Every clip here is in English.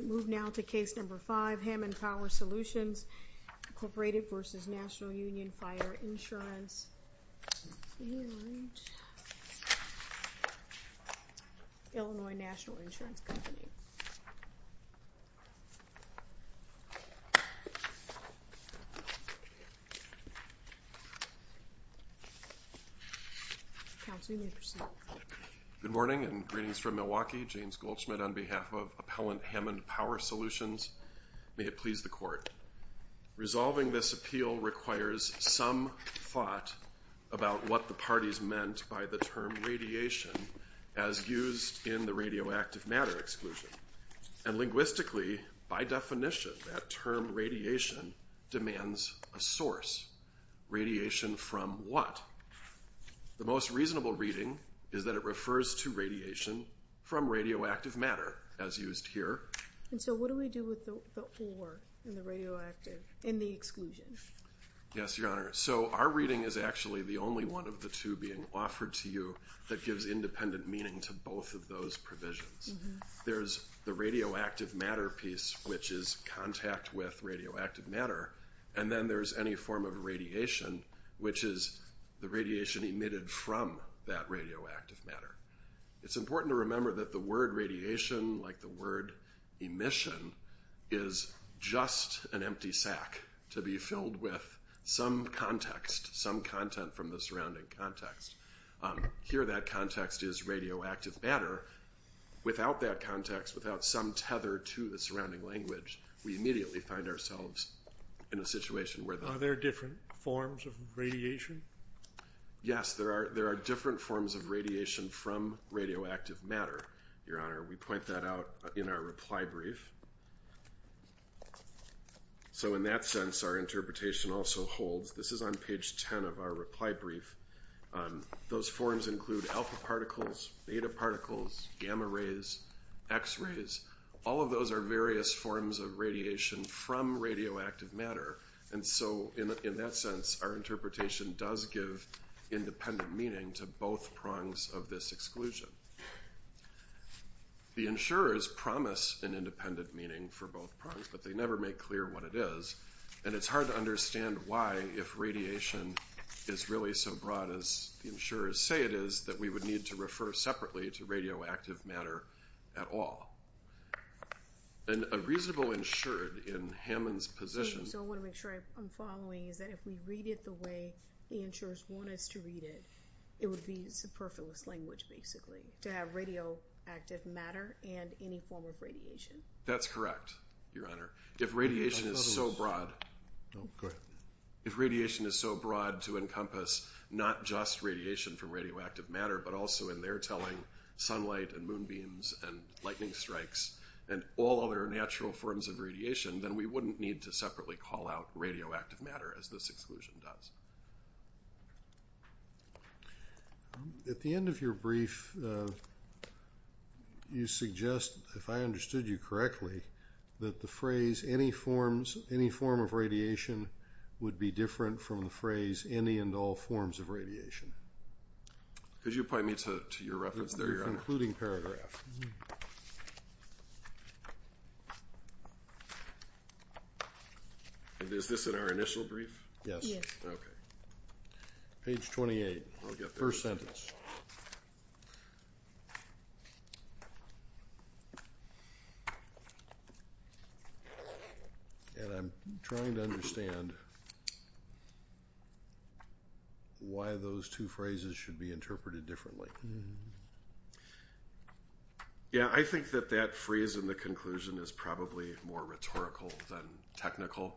Move now to Case No. 5, Hammond Power Solutions, Incorporated v. National Union Fire Insurance, Illinois National Insurance Company. Good morning and greetings from Milwaukee. James Goldschmidt on behalf of Appellant Hammond Power Solutions. May it please the Court. Resolving this appeal requires some thought about what the parties meant by the term radiation as used in the radioactive matter exclusion. And linguistically, by definition, that term radiation demands a source. Radiation from what? The most reasonable reading is that it refers to radiation from radioactive matter as used here. And so what do we do with the or in the radioactive, in the exclusion? Yes, Your Honor. So our reading is actually the only one of the two being offered to you that gives independent meaning to both of those provisions. There's the radioactive matter piece, which is contact with radioactive matter, and then there's any form of radiation, which is the radiation emitted from that radioactive matter. It's important to remember that the word radiation, like the word emission, is just an empty sack to be filled with some context, some content from the surrounding context. Here that context is radioactive matter. Without that context, without some tether to the surrounding language, we immediately find ourselves in a situation where the... Are there different forms of radiation? Yes, there are different forms of radiation from radioactive matter, Your Honor. We point that out in our reply brief. So in that sense, our interpretation also holds. This is on page 10 of our reply brief. Those forms include alpha particles, beta particles, gamma rays, x-rays. All of those are various forms of radiation from radioactive matter. And so in that sense, our interpretation does give independent meaning to both prongs of this exclusion. The insurers promise an independent meaning for both prongs, but they never make clear what it is. And it's hard to understand why, if radiation is really so broad as the insurers say it is, that we would need to refer separately to radioactive matter at all. And a reasonable insured in Hammond's position... So what I'm following is that if we read it the way the insurers want us to read it, it would be superfluous language, basically, to have radioactive matter and any form of radiation. That's correct, Your Honor. If radiation is so broad... Go ahead. If radiation is so broad to encompass not just radiation from radioactive matter, but also, in their telling, sunlight and moonbeams and lightning strikes and all other natural forms of radiation, then we wouldn't need to separately call out radioactive matter, as this exclusion does. At the end of your brief, you suggest, if I understood you correctly, that the phrase, any forms of radiation, would be different from the phrase, any and all forms of radiation. Could you point me to your reference there, Your Honor? The concluding paragraph. Is this in our initial brief? Yes. Okay. Page 28, first sentence. And I'm trying to understand why those two phrases should be interpreted differently. Yeah, I think that that phrase in the conclusion is probably more rhetorical than technical.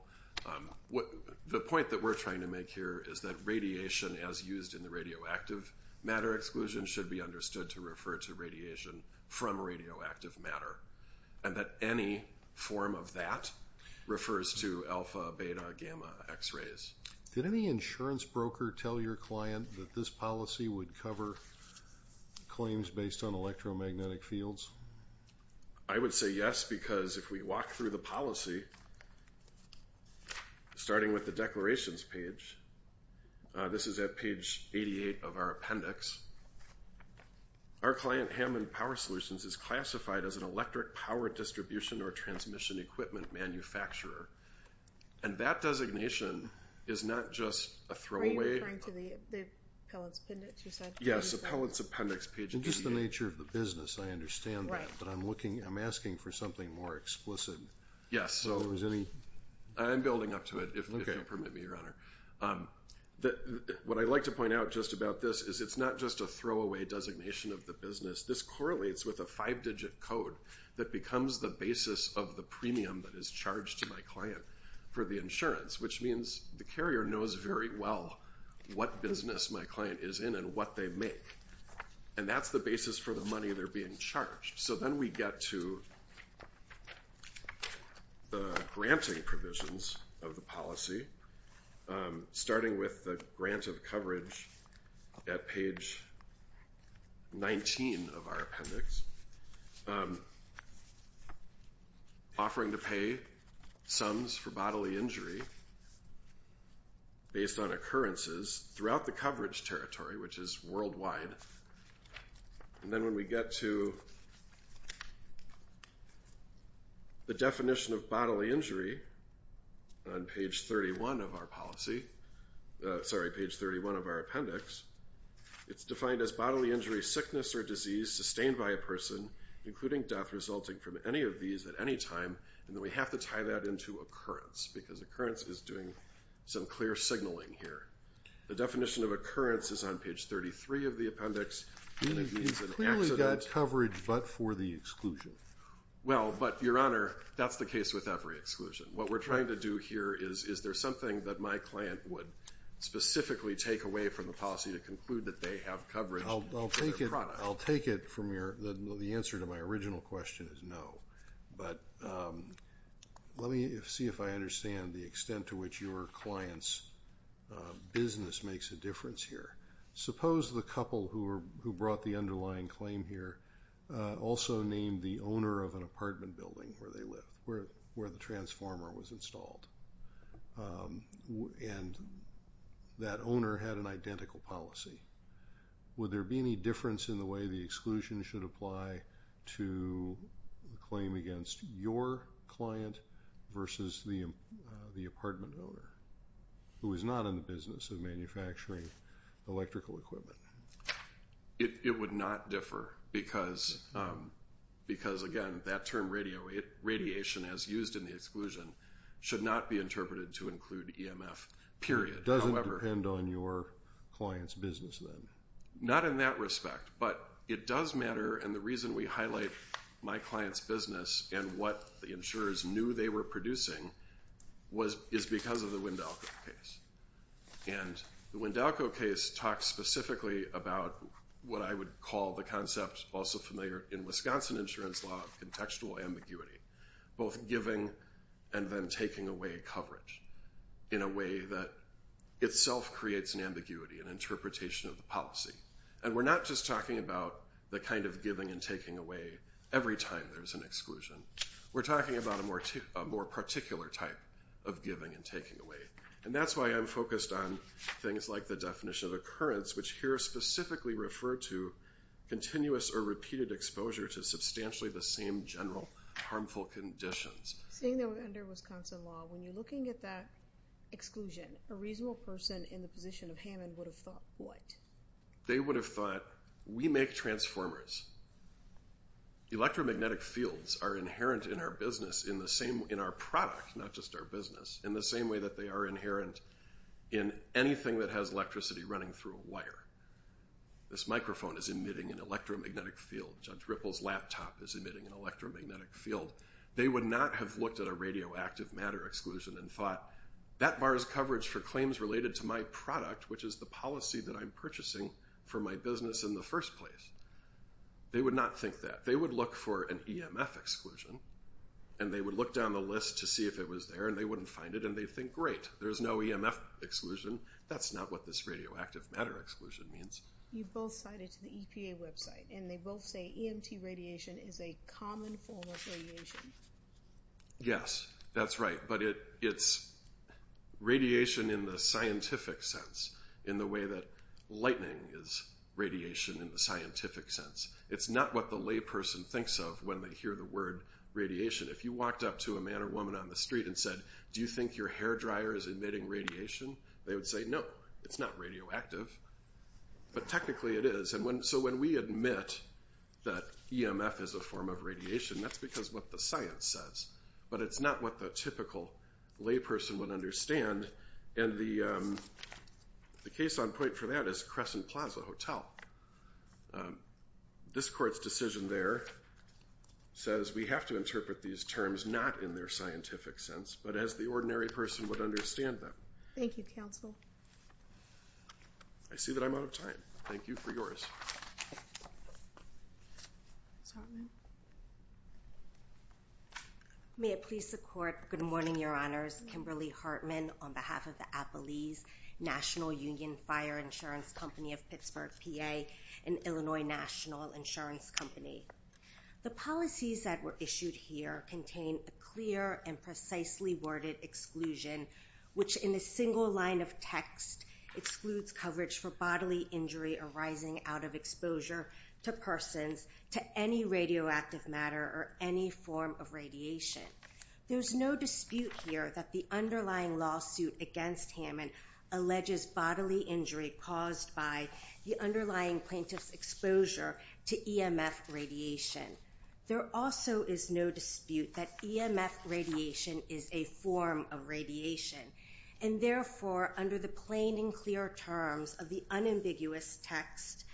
The point that we're trying to make here is that radiation, as used in the radioactive matter exclusion, should be understood to refer to radiation from radioactive matter, and that any form of that refers to alpha, beta, gamma X-rays. Did any insurance broker tell your client that this policy would cover claims based on electromagnetic fields? I would say yes, because if we walk through the policy, starting with the declarations page, this is at page 88 of our appendix, our client, Hammond Power Solutions, is classified as an electric power distribution or transmission equipment manufacturer. And that designation is not just a throwaway. Are you referring to the appellant's appendix? Yes, appellant's appendix, page 88. Just the nature of the business, I understand that, but I'm asking for something more explicit. Yes, I'm building up to it, if you'll permit me, Your Honor. What I'd like to point out just about this is it's not just a throwaway designation of the business. This correlates with a five-digit code that becomes the basis of the premium that is charged to my client for the insurance, which means the carrier knows very well what business my client is in and what they make. And that's the basis for the money they're being charged. So then we get to the granting provisions of the policy, starting with the grant of coverage at page 19 of our appendix, offering to pay sums for bodily injury based on occurrences throughout the coverage territory, which is worldwide. And then when we get to the definition of bodily injury on page 31 of our policy, sorry, page 31 of our appendix, it's defined as bodily injury, sickness, or disease sustained by a person, including death resulting from any of these at any time. And then we have to tie that into occurrence, because occurrence is doing some clear signaling here. The definition of occurrence is on page 33 of the appendix, and it means an accident. It's clearly got coverage but for the exclusion. Well, but, Your Honor, that's the case with every exclusion. What we're trying to do here is, is there something that my client would specifically take away from the policy to conclude that they have coverage for their product? I'll take it from your, the answer to my original question is no. But let me see if I understand the extent to which your client's business makes a difference here. Suppose the couple who brought the underlying claim here also named the owner of an apartment building where they lived, where the transformer was installed, and that owner had an identical policy. Would there be any difference in the way the exclusion should apply to the claim against your client versus the apartment owner who is not in the business of manufacturing electrical equipment? It would not differ because, again, that term radiation, as used in the exclusion, should not be interpreted to include EMF, period. It doesn't depend on your client's business, then? Not in that respect, but it does matter, and the reason we highlight my client's business and what the insurers knew they were producing is because of the Wendelco case. And the Wendelco case talks specifically about what I would call the concept, also familiar in Wisconsin insurance law, of contextual ambiguity, both giving and then taking away coverage in a way that itself creates an ambiguity, an interpretation of the policy. And we're not just talking about the kind of giving and taking away every time there's an exclusion. We're talking about a more particular type of giving and taking away. And that's why I'm focused on things like the definition of occurrence, which here specifically refer to continuous or repeated exposure to substantially the same general harmful conditions. Seeing that we're under Wisconsin law, when you're looking at that exclusion, a reasonable person in the position of Hammond would have thought what? They would have thought, we make transformers. Electromagnetic fields are inherent in our business, in our product, not just our business, in the same way that they are inherent in anything that has electricity running through a wire. This microphone is emitting an electromagnetic field. Judge Ripple's laptop is emitting an electromagnetic field. They would not have looked at a radioactive matter exclusion and thought, that bars coverage for claims related to my product, which is the policy that I'm purchasing for my business in the first place. They would not think that. They would look for an EMF exclusion, and they would look down the list to see if it was there, and they wouldn't find it, and they'd think, great, there's no EMF exclusion. That's not what this radioactive matter exclusion means. You both cited to the EPA website, and they both say EMT radiation is a common form of radiation. Yes, that's right, but it's radiation in the scientific sense, in the way that lightning is radiation in the scientific sense. It's not what the layperson thinks of when they hear the word radiation. If you walked up to a man or woman on the street and said, do you think your hair dryer is emitting radiation, they would say, no, it's not radioactive, but technically it is. So when we admit that EMF is a form of radiation, that's because what the science says, but it's not what the typical layperson would understand, and the case on point for that is Crescent Plaza Hotel. This court's decision there says we have to interpret these terms not in their scientific sense, but as the ordinary person would understand them. Thank you, counsel. I see that I'm out of time. Thank you for yours. Ms. Hartman. May it please the court, good morning, Your Honors. Kimberly Hartman on behalf of the Appalese National Union Fire Insurance Company of Pittsburgh, PA, an Illinois national insurance company. The policies that were issued here contain a clear and precisely worded exclusion, which in a single line of text excludes coverage for bodily injury arising out of exposure to persons, to any radioactive matter or any form of radiation. There's no dispute here that the underlying lawsuit against Hammond alleges bodily injury caused by the underlying plaintiff's exposure to EMF radiation. There also is no dispute that EMF radiation is a form of radiation, and therefore under the plain and clear terms of the unambiguous text,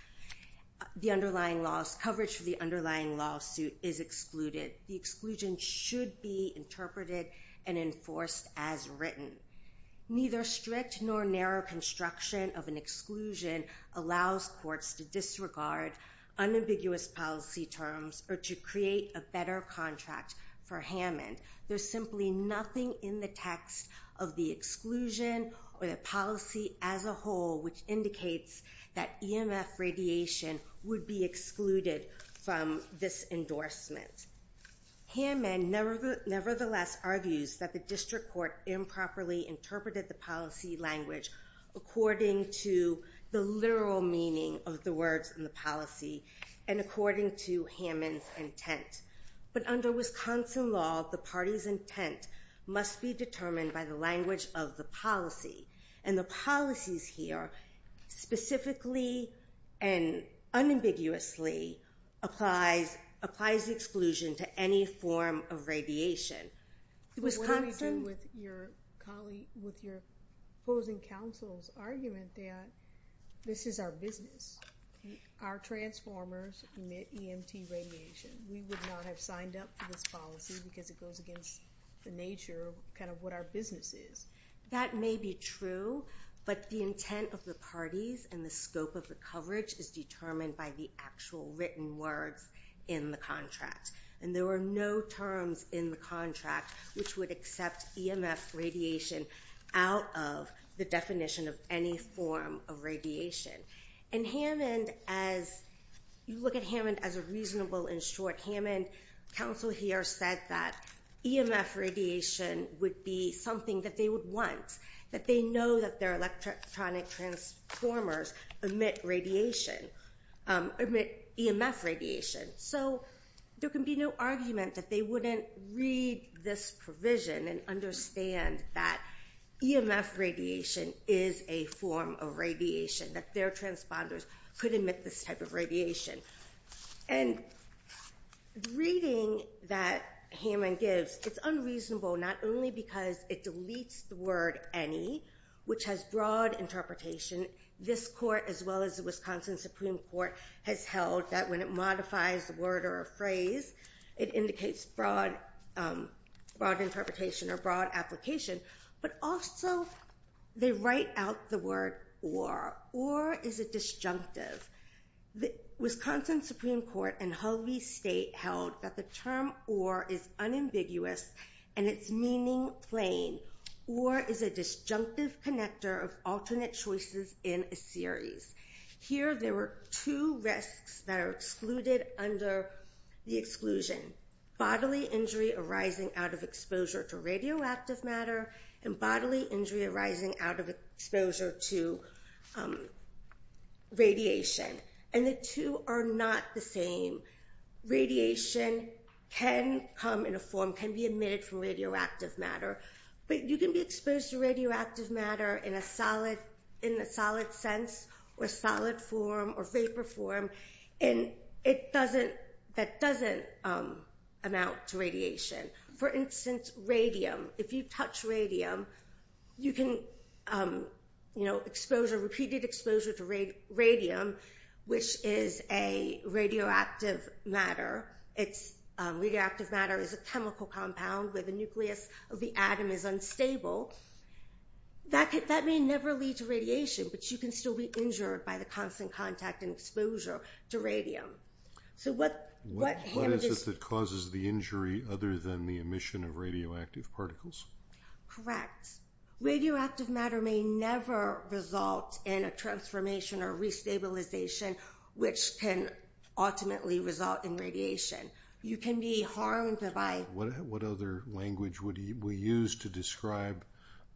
the underlying law's coverage for the underlying lawsuit is excluded. The exclusion should be interpreted and enforced as written. Neither strict nor narrow construction of an exclusion allows courts to disregard unambiguous policy terms or to create a better contract for Hammond. There's simply nothing in the text of the exclusion or the policy as a whole which indicates that EMF radiation would be excluded from this endorsement. Hammond nevertheless argues that the district court improperly interpreted the policy language according to the literal meaning of the words in the policy and according to Hammond's intent. But under Wisconsin law, the party's intent must be determined by the language of the policy, and the policies here specifically and unambiguously applies the exclusion to any form of radiation. What do we do with your opposing counsel's argument that this is our business? Our transformers emit EMT radiation. We would not have signed up for this policy because it goes against the nature of kind of what our business is. That may be true, but the intent of the parties and the scope of the coverage is determined by the actual written words in the contract. And there are no terms in the contract which would accept EMF radiation out of the definition of any form of radiation. In Hammond, as you look at Hammond as a reasonable and short Hammond, and counsel here said that EMF radiation would be something that they would want, that they know that their electronic transformers emit radiation, emit EMF radiation. So there can be no argument that they wouldn't read this provision and understand that EMF radiation is a form of radiation, that their transponders could emit this type of radiation. And reading that Hammond gives, it's unreasonable, not only because it deletes the word any, which has broad interpretation. This court, as well as the Wisconsin Supreme Court, has held that when it modifies the word or a phrase, it indicates broad interpretation or broad application, but also they write out the word or. Or is a disjunctive. Wisconsin Supreme Court and Hull v. State held that the term or is unambiguous and its meaning plain. Or is a disjunctive connector of alternate choices in a series. Here there were two risks that are excluded under the exclusion. Bodily injury arising out of exposure to radioactive matter and bodily injury arising out of exposure to radiation. And the two are not the same. Radiation can come in a form, can be emitted from radioactive matter, but you can be exposed to radioactive matter in a solid sense or solid form or vapor form and that doesn't amount to radiation. For instance, radium. If you touch radium, you can, you know, exposure, repeated exposure to radium, which is a radioactive matter. Radioactive matter is a chemical compound where the nucleus of the atom is unstable. That may never lead to radiation, but you can still be injured by the constant contact and exposure to radium. What is it that causes the injury other than the emission of radioactive particles? Correct. Radioactive matter may never result in a transformation or re-stabilization, which can ultimately result in radiation. You can be harmed by... What other language would we use to describe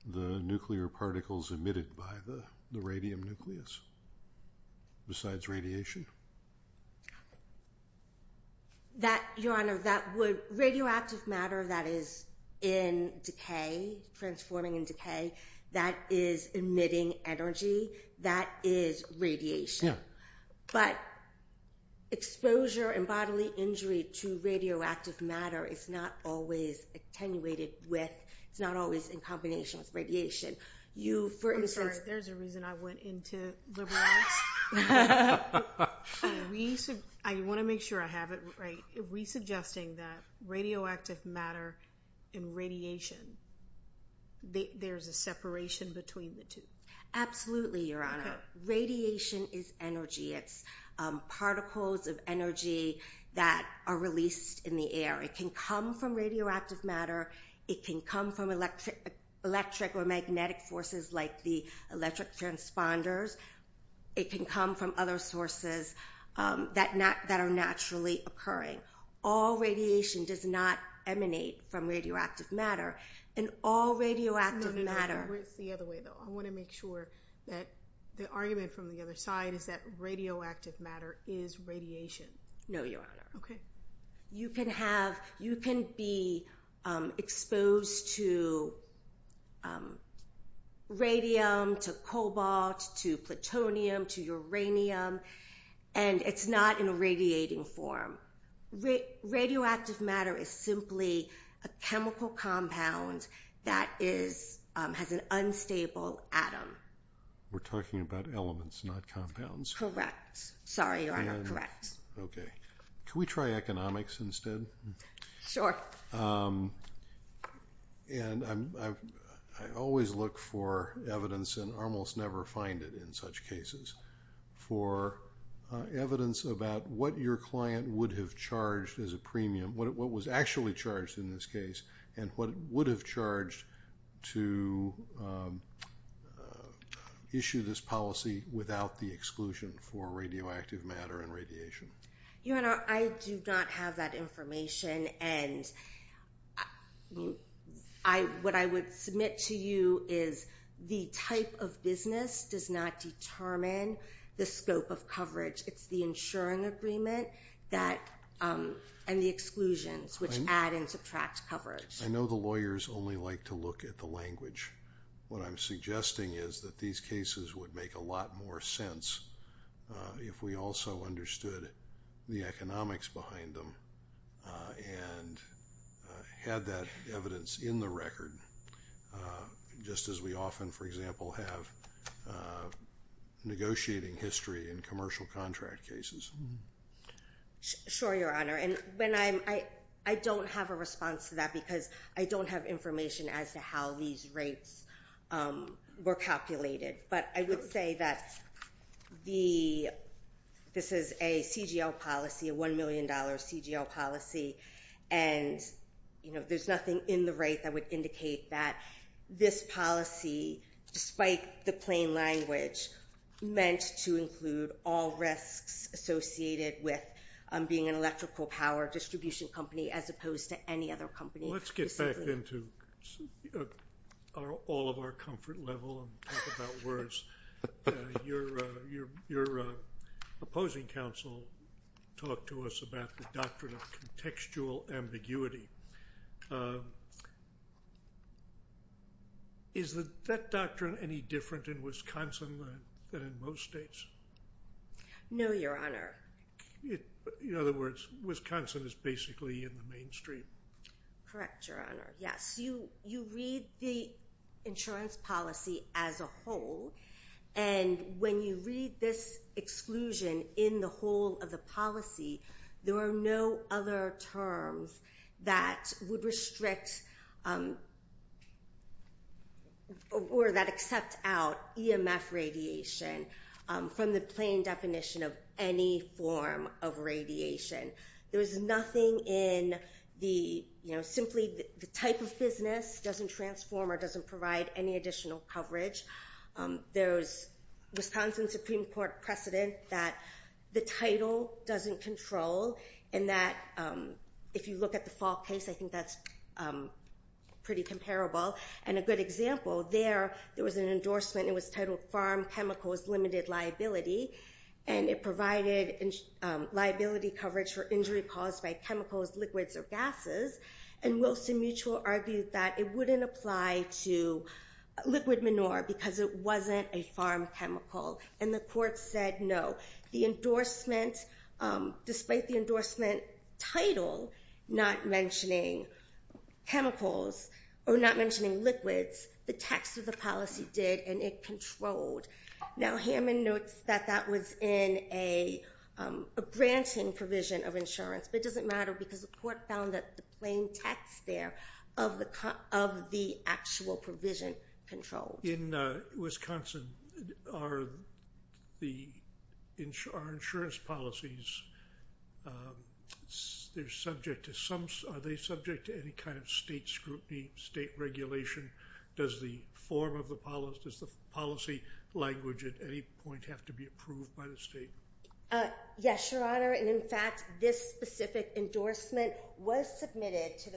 the nuclear particles emitted by the radium nucleus besides radiation? Your Honor, radioactive matter that is in decay, transforming in decay, that is emitting energy, that is radiation. Yeah. But exposure and bodily injury to radioactive matter is not always attenuated with, it's not always in combination with radiation. I'm sorry, there's a reason I went into liberal arts. I want to make sure I have it right. Are we suggesting that radioactive matter and radiation, there's a separation between the two? Absolutely, Your Honor. Radiation is energy. It's particles of energy that are released in the air. It can come from radioactive matter. It can come from electric or magnetic forces like the electric transponders. It can come from other sources that are naturally occurring. All radiation does not emanate from radioactive matter, and all radioactive matter... No, no, no, it's the other way, though. I want to make sure that the argument from the other side is that radioactive matter is radiation. No, Your Honor. Okay. You can be exposed to radium, to cobalt, to plutonium, to uranium, and it's not in a radiating form. Radioactive matter is simply a chemical compound that has an unstable atom. We're talking about elements, not compounds. Correct. Sorry, Your Honor. Correct. Okay. Can we try economics instead? Sure. I always look for evidence, and almost never find it in such cases, for evidence about what your client would have charged as a premium, what was actually charged in this case, and what it would have charged to issue this policy without the exclusion for radioactive matter and radiation. Your Honor, I do not have that information, and what I would submit to you is the type of business does not determine the scope of coverage. It's the insuring agreement and the exclusions, which add and subtract coverage. I know the lawyers only like to look at the language. What I'm suggesting is that these cases would make a lot more sense if we also understood the economics behind them and had that evidence in the record, just as we often, for example, have negotiating history in commercial contract cases. Sure, Your Honor, and I don't have a response to that because I don't have information as to how these rates were calculated, but I would say that this is a CGL policy, a $1 million CGL policy, and there's nothing in the rate that would indicate that this policy, despite the plain language, meant to include all risks associated with being an electrical power distribution company as opposed to any other company. Let's get back into all of our comfort level and talk about words. Your opposing counsel talked to us about the doctrine of contextual ambiguity. Is that doctrine any different in Wisconsin than in most states? No, Your Honor. In other words, Wisconsin is basically in the mainstream. Correct, Your Honor, yes. You read the insurance policy as a whole, and when you read this exclusion in the whole of the policy, there are no other terms that would restrict or that accept out EMF radiation from the plain definition of any form of radiation. There is nothing in the simply the type of business doesn't transform or doesn't provide any additional coverage. There's Wisconsin Supreme Court precedent that the title doesn't control, and that if you look at the Falk case, I think that's pretty comparable, and a good example there, there was an endorsement, and it was titled Farm Chemicals Limited Liability, and it provided liability coverage for injury caused by chemicals, liquids, or gases, and Wilson Mutual argued that it wouldn't apply to liquid manure because it wasn't a farm chemical, and the court said no. The endorsement, despite the endorsement title not mentioning chemicals or not mentioning liquids, the text of the policy did, and it controlled. Now Hammond notes that that was in a granting provision of insurance, but it doesn't matter because the court found that the plain text there of the actual provision controlled. In Wisconsin, are insurance policies, are they subject to any kind of state scrutiny, state regulation? Does the form of the policy, does the policy language at any point have to be approved by the state? Yes, Your Honor, and in fact, this specific endorsement was submitted to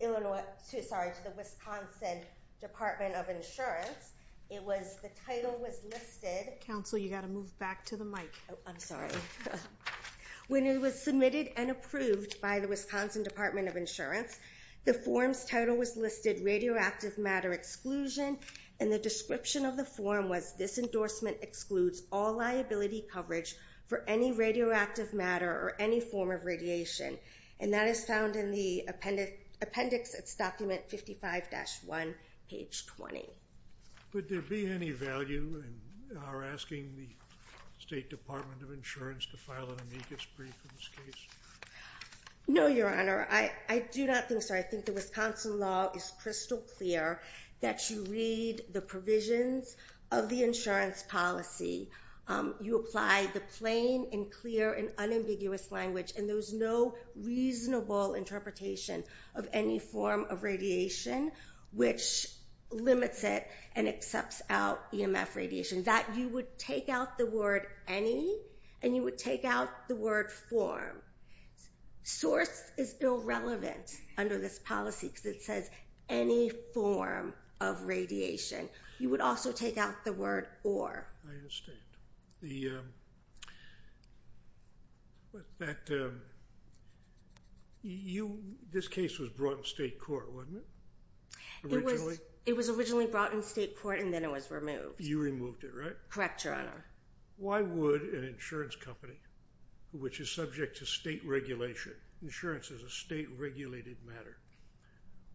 the Wisconsin Department of Insurance. It was, the title was listed. Counsel, you've got to move back to the mic. I'm sorry. When it was submitted and approved by the Wisconsin Department of Insurance, the form's title was listed, radioactive matter exclusion, and the description of the form was, this endorsement excludes all liability coverage for any radioactive matter or any form of radiation, and that is found in the appendix. It's document 55-1, page 20. Would there be any value in our asking the State Department of Insurance to file an amicus brief in this case? No, Your Honor. I do not think so. I think the Wisconsin law is crystal clear that you read the provisions of the insurance policy. You apply the plain and clear and unambiguous language, and there's no reasonable interpretation of any form of radiation, which limits it and accepts out EMF radiation. That you would take out the word any, and you would take out the word form. Source is irrelevant under this policy because it says any form of radiation. You would also take out the word or. I understand. This case was brought in state court, wasn't it, originally? It was originally brought in state court, and then it was removed. You removed it, right? Correct, Your Honor. Why would an insurance company, which is subject to state regulation, insurance is a state-regulated matter,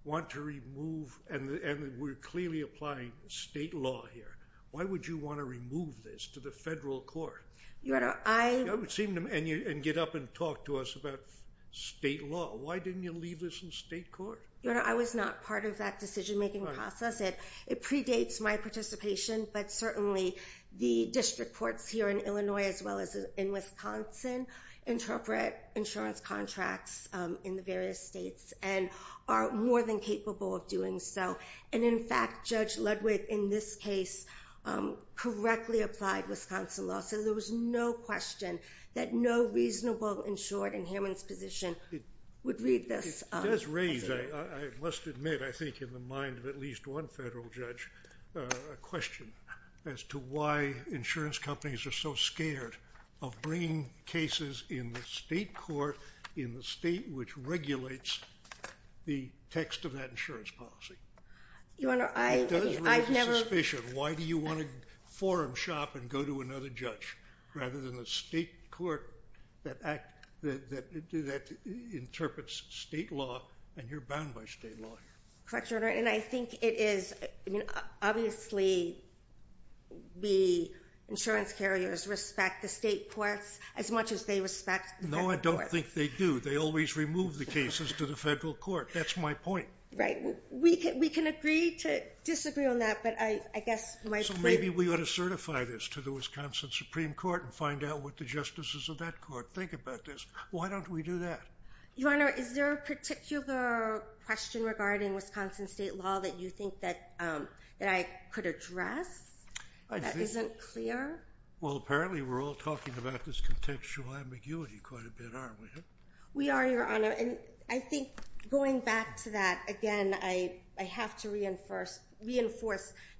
want to remove, and we're clearly applying state law here, why would you want to remove this to the federal court? Your Honor, I. And get up and talk to us about state law. Why didn't you leave this in state court? Your Honor, I was not part of that decision-making process. It predates my participation, but certainly the district courts here in Illinois, as well as in Wisconsin, interpret insurance contracts in the various states and are more than capable of doing so. And, in fact, Judge Ludwig, in this case, correctly applied Wisconsin law, so there was no question that no reasonable insured in Hammond's position would read this. It does raise, I must admit, I think in the mind of at least one federal judge, a question as to why insurance companies are so scared of bringing cases in the state court, in the state which regulates the text of that insurance policy. Your Honor, I. It does raise a suspicion. Why do you want to forum shop and go to another judge, rather than a state court that interprets state law and you're bound by state law? Correct, Your Honor. And I think it is, obviously, the insurance carriers respect the state courts as much as they respect the federal courts. No, I don't think they do. They always remove the cases to the federal court. That's my point. Right. We can agree to disagree on that, but I guess my point. Maybe we ought to certify this to the Wisconsin Supreme Court and find out what the justices of that court think about this. Why don't we do that? Your Honor, is there a particular question regarding Wisconsin state law that you think that I could address that isn't clear? Well, apparently we're all talking about this contextual ambiguity quite a bit, aren't we? We are, Your Honor. I think going back to that, again, I have to reinforce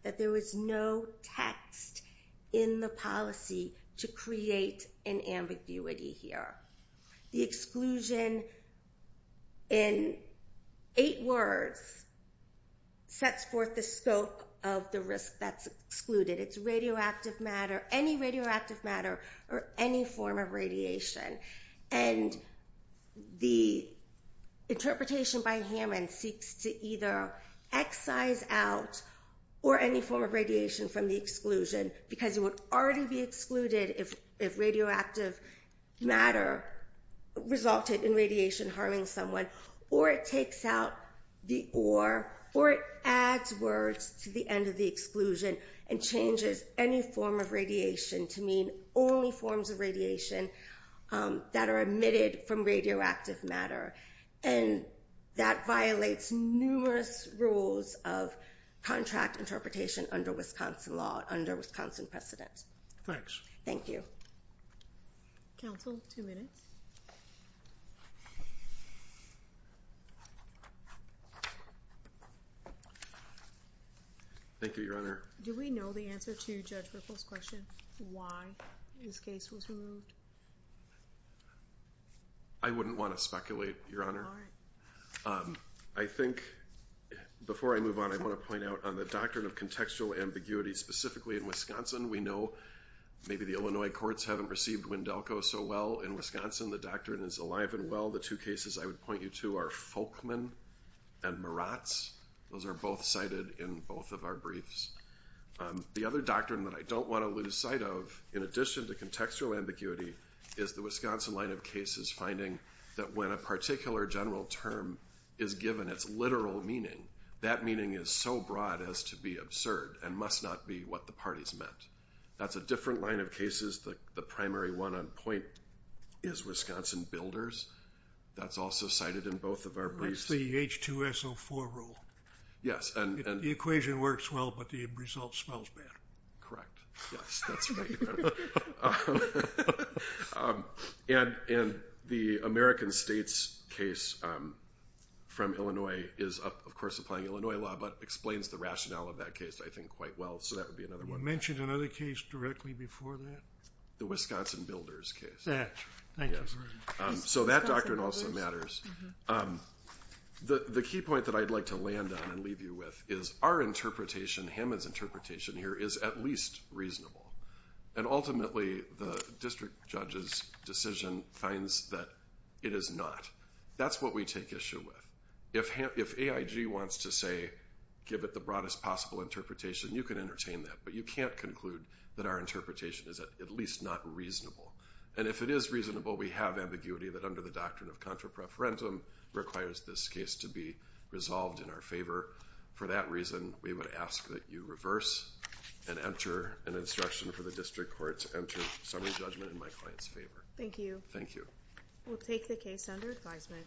that there was no text in the policy to create an ambiguity here. The exclusion in eight words sets forth the scope of the risk that's excluded. It's radioactive matter, any radioactive matter or any form of radiation. And the interpretation by Hammond seeks to either excise out or any form of radiation from the exclusion because it would already be excluded if radioactive matter resulted in radiation harming someone, or it takes out the or, or it adds words to the end of the exclusion and changes any form of radiation to mean only forms of radiation that are emitted from radioactive matter. And that violates numerous rules of contract interpretation under Wisconsin law, under Wisconsin precedent. Thanks. Thank you. Counsel, two minutes. Thank you, Your Honor. Do we know the answer to Judge Whipple's question, why this case was removed? I wouldn't want to speculate, Your Honor. All right. I think, before I move on, I want to point out on the doctrine of contextual ambiguity, specifically in Wisconsin. We know maybe the Illinois courts haven't received Wendelco so well in Wisconsin. The doctrine is alive and well. The two cases I would point you to are Folkman and Maratz. Those are both cited in both of our briefs. The other doctrine that I don't want to lose sight of, in addition to contextual ambiguity, is the Wisconsin line of cases finding that when a particular general term is given, and it's literal meaning, that meaning is so broad as to be absurd and must not be what the parties meant. That's a different line of cases. The primary one on point is Wisconsin builders. That's also cited in both of our briefs. That's the H2SO4 rule. Yes. The equation works well, but the result smells bad. Correct. Yes, that's right. And the American states case from Illinois is, of course, applying Illinois law, but explains the rationale of that case, I think, quite well. So that would be another one. You mentioned another case directly before that. The Wisconsin builders case. That. Thank you. So that doctrine also matters. The key point that I'd like to land on and leave you with is our interpretation, Hammond's interpretation here, is at least reasonable. And ultimately, the district judge's decision finds that it is not. That's what we take issue with. If AIG wants to say give it the broadest possible interpretation, you can entertain that, but you can't conclude that our interpretation is at least not reasonable. And if it is reasonable, we have ambiguity that under the doctrine of contra preferentum requires this case to be resolved in our favor. For that reason, we would ask that you reverse and enter an instruction for the district court to enter summary judgment in my client's favor. Thank you. Thank you. We'll take the case under advisement.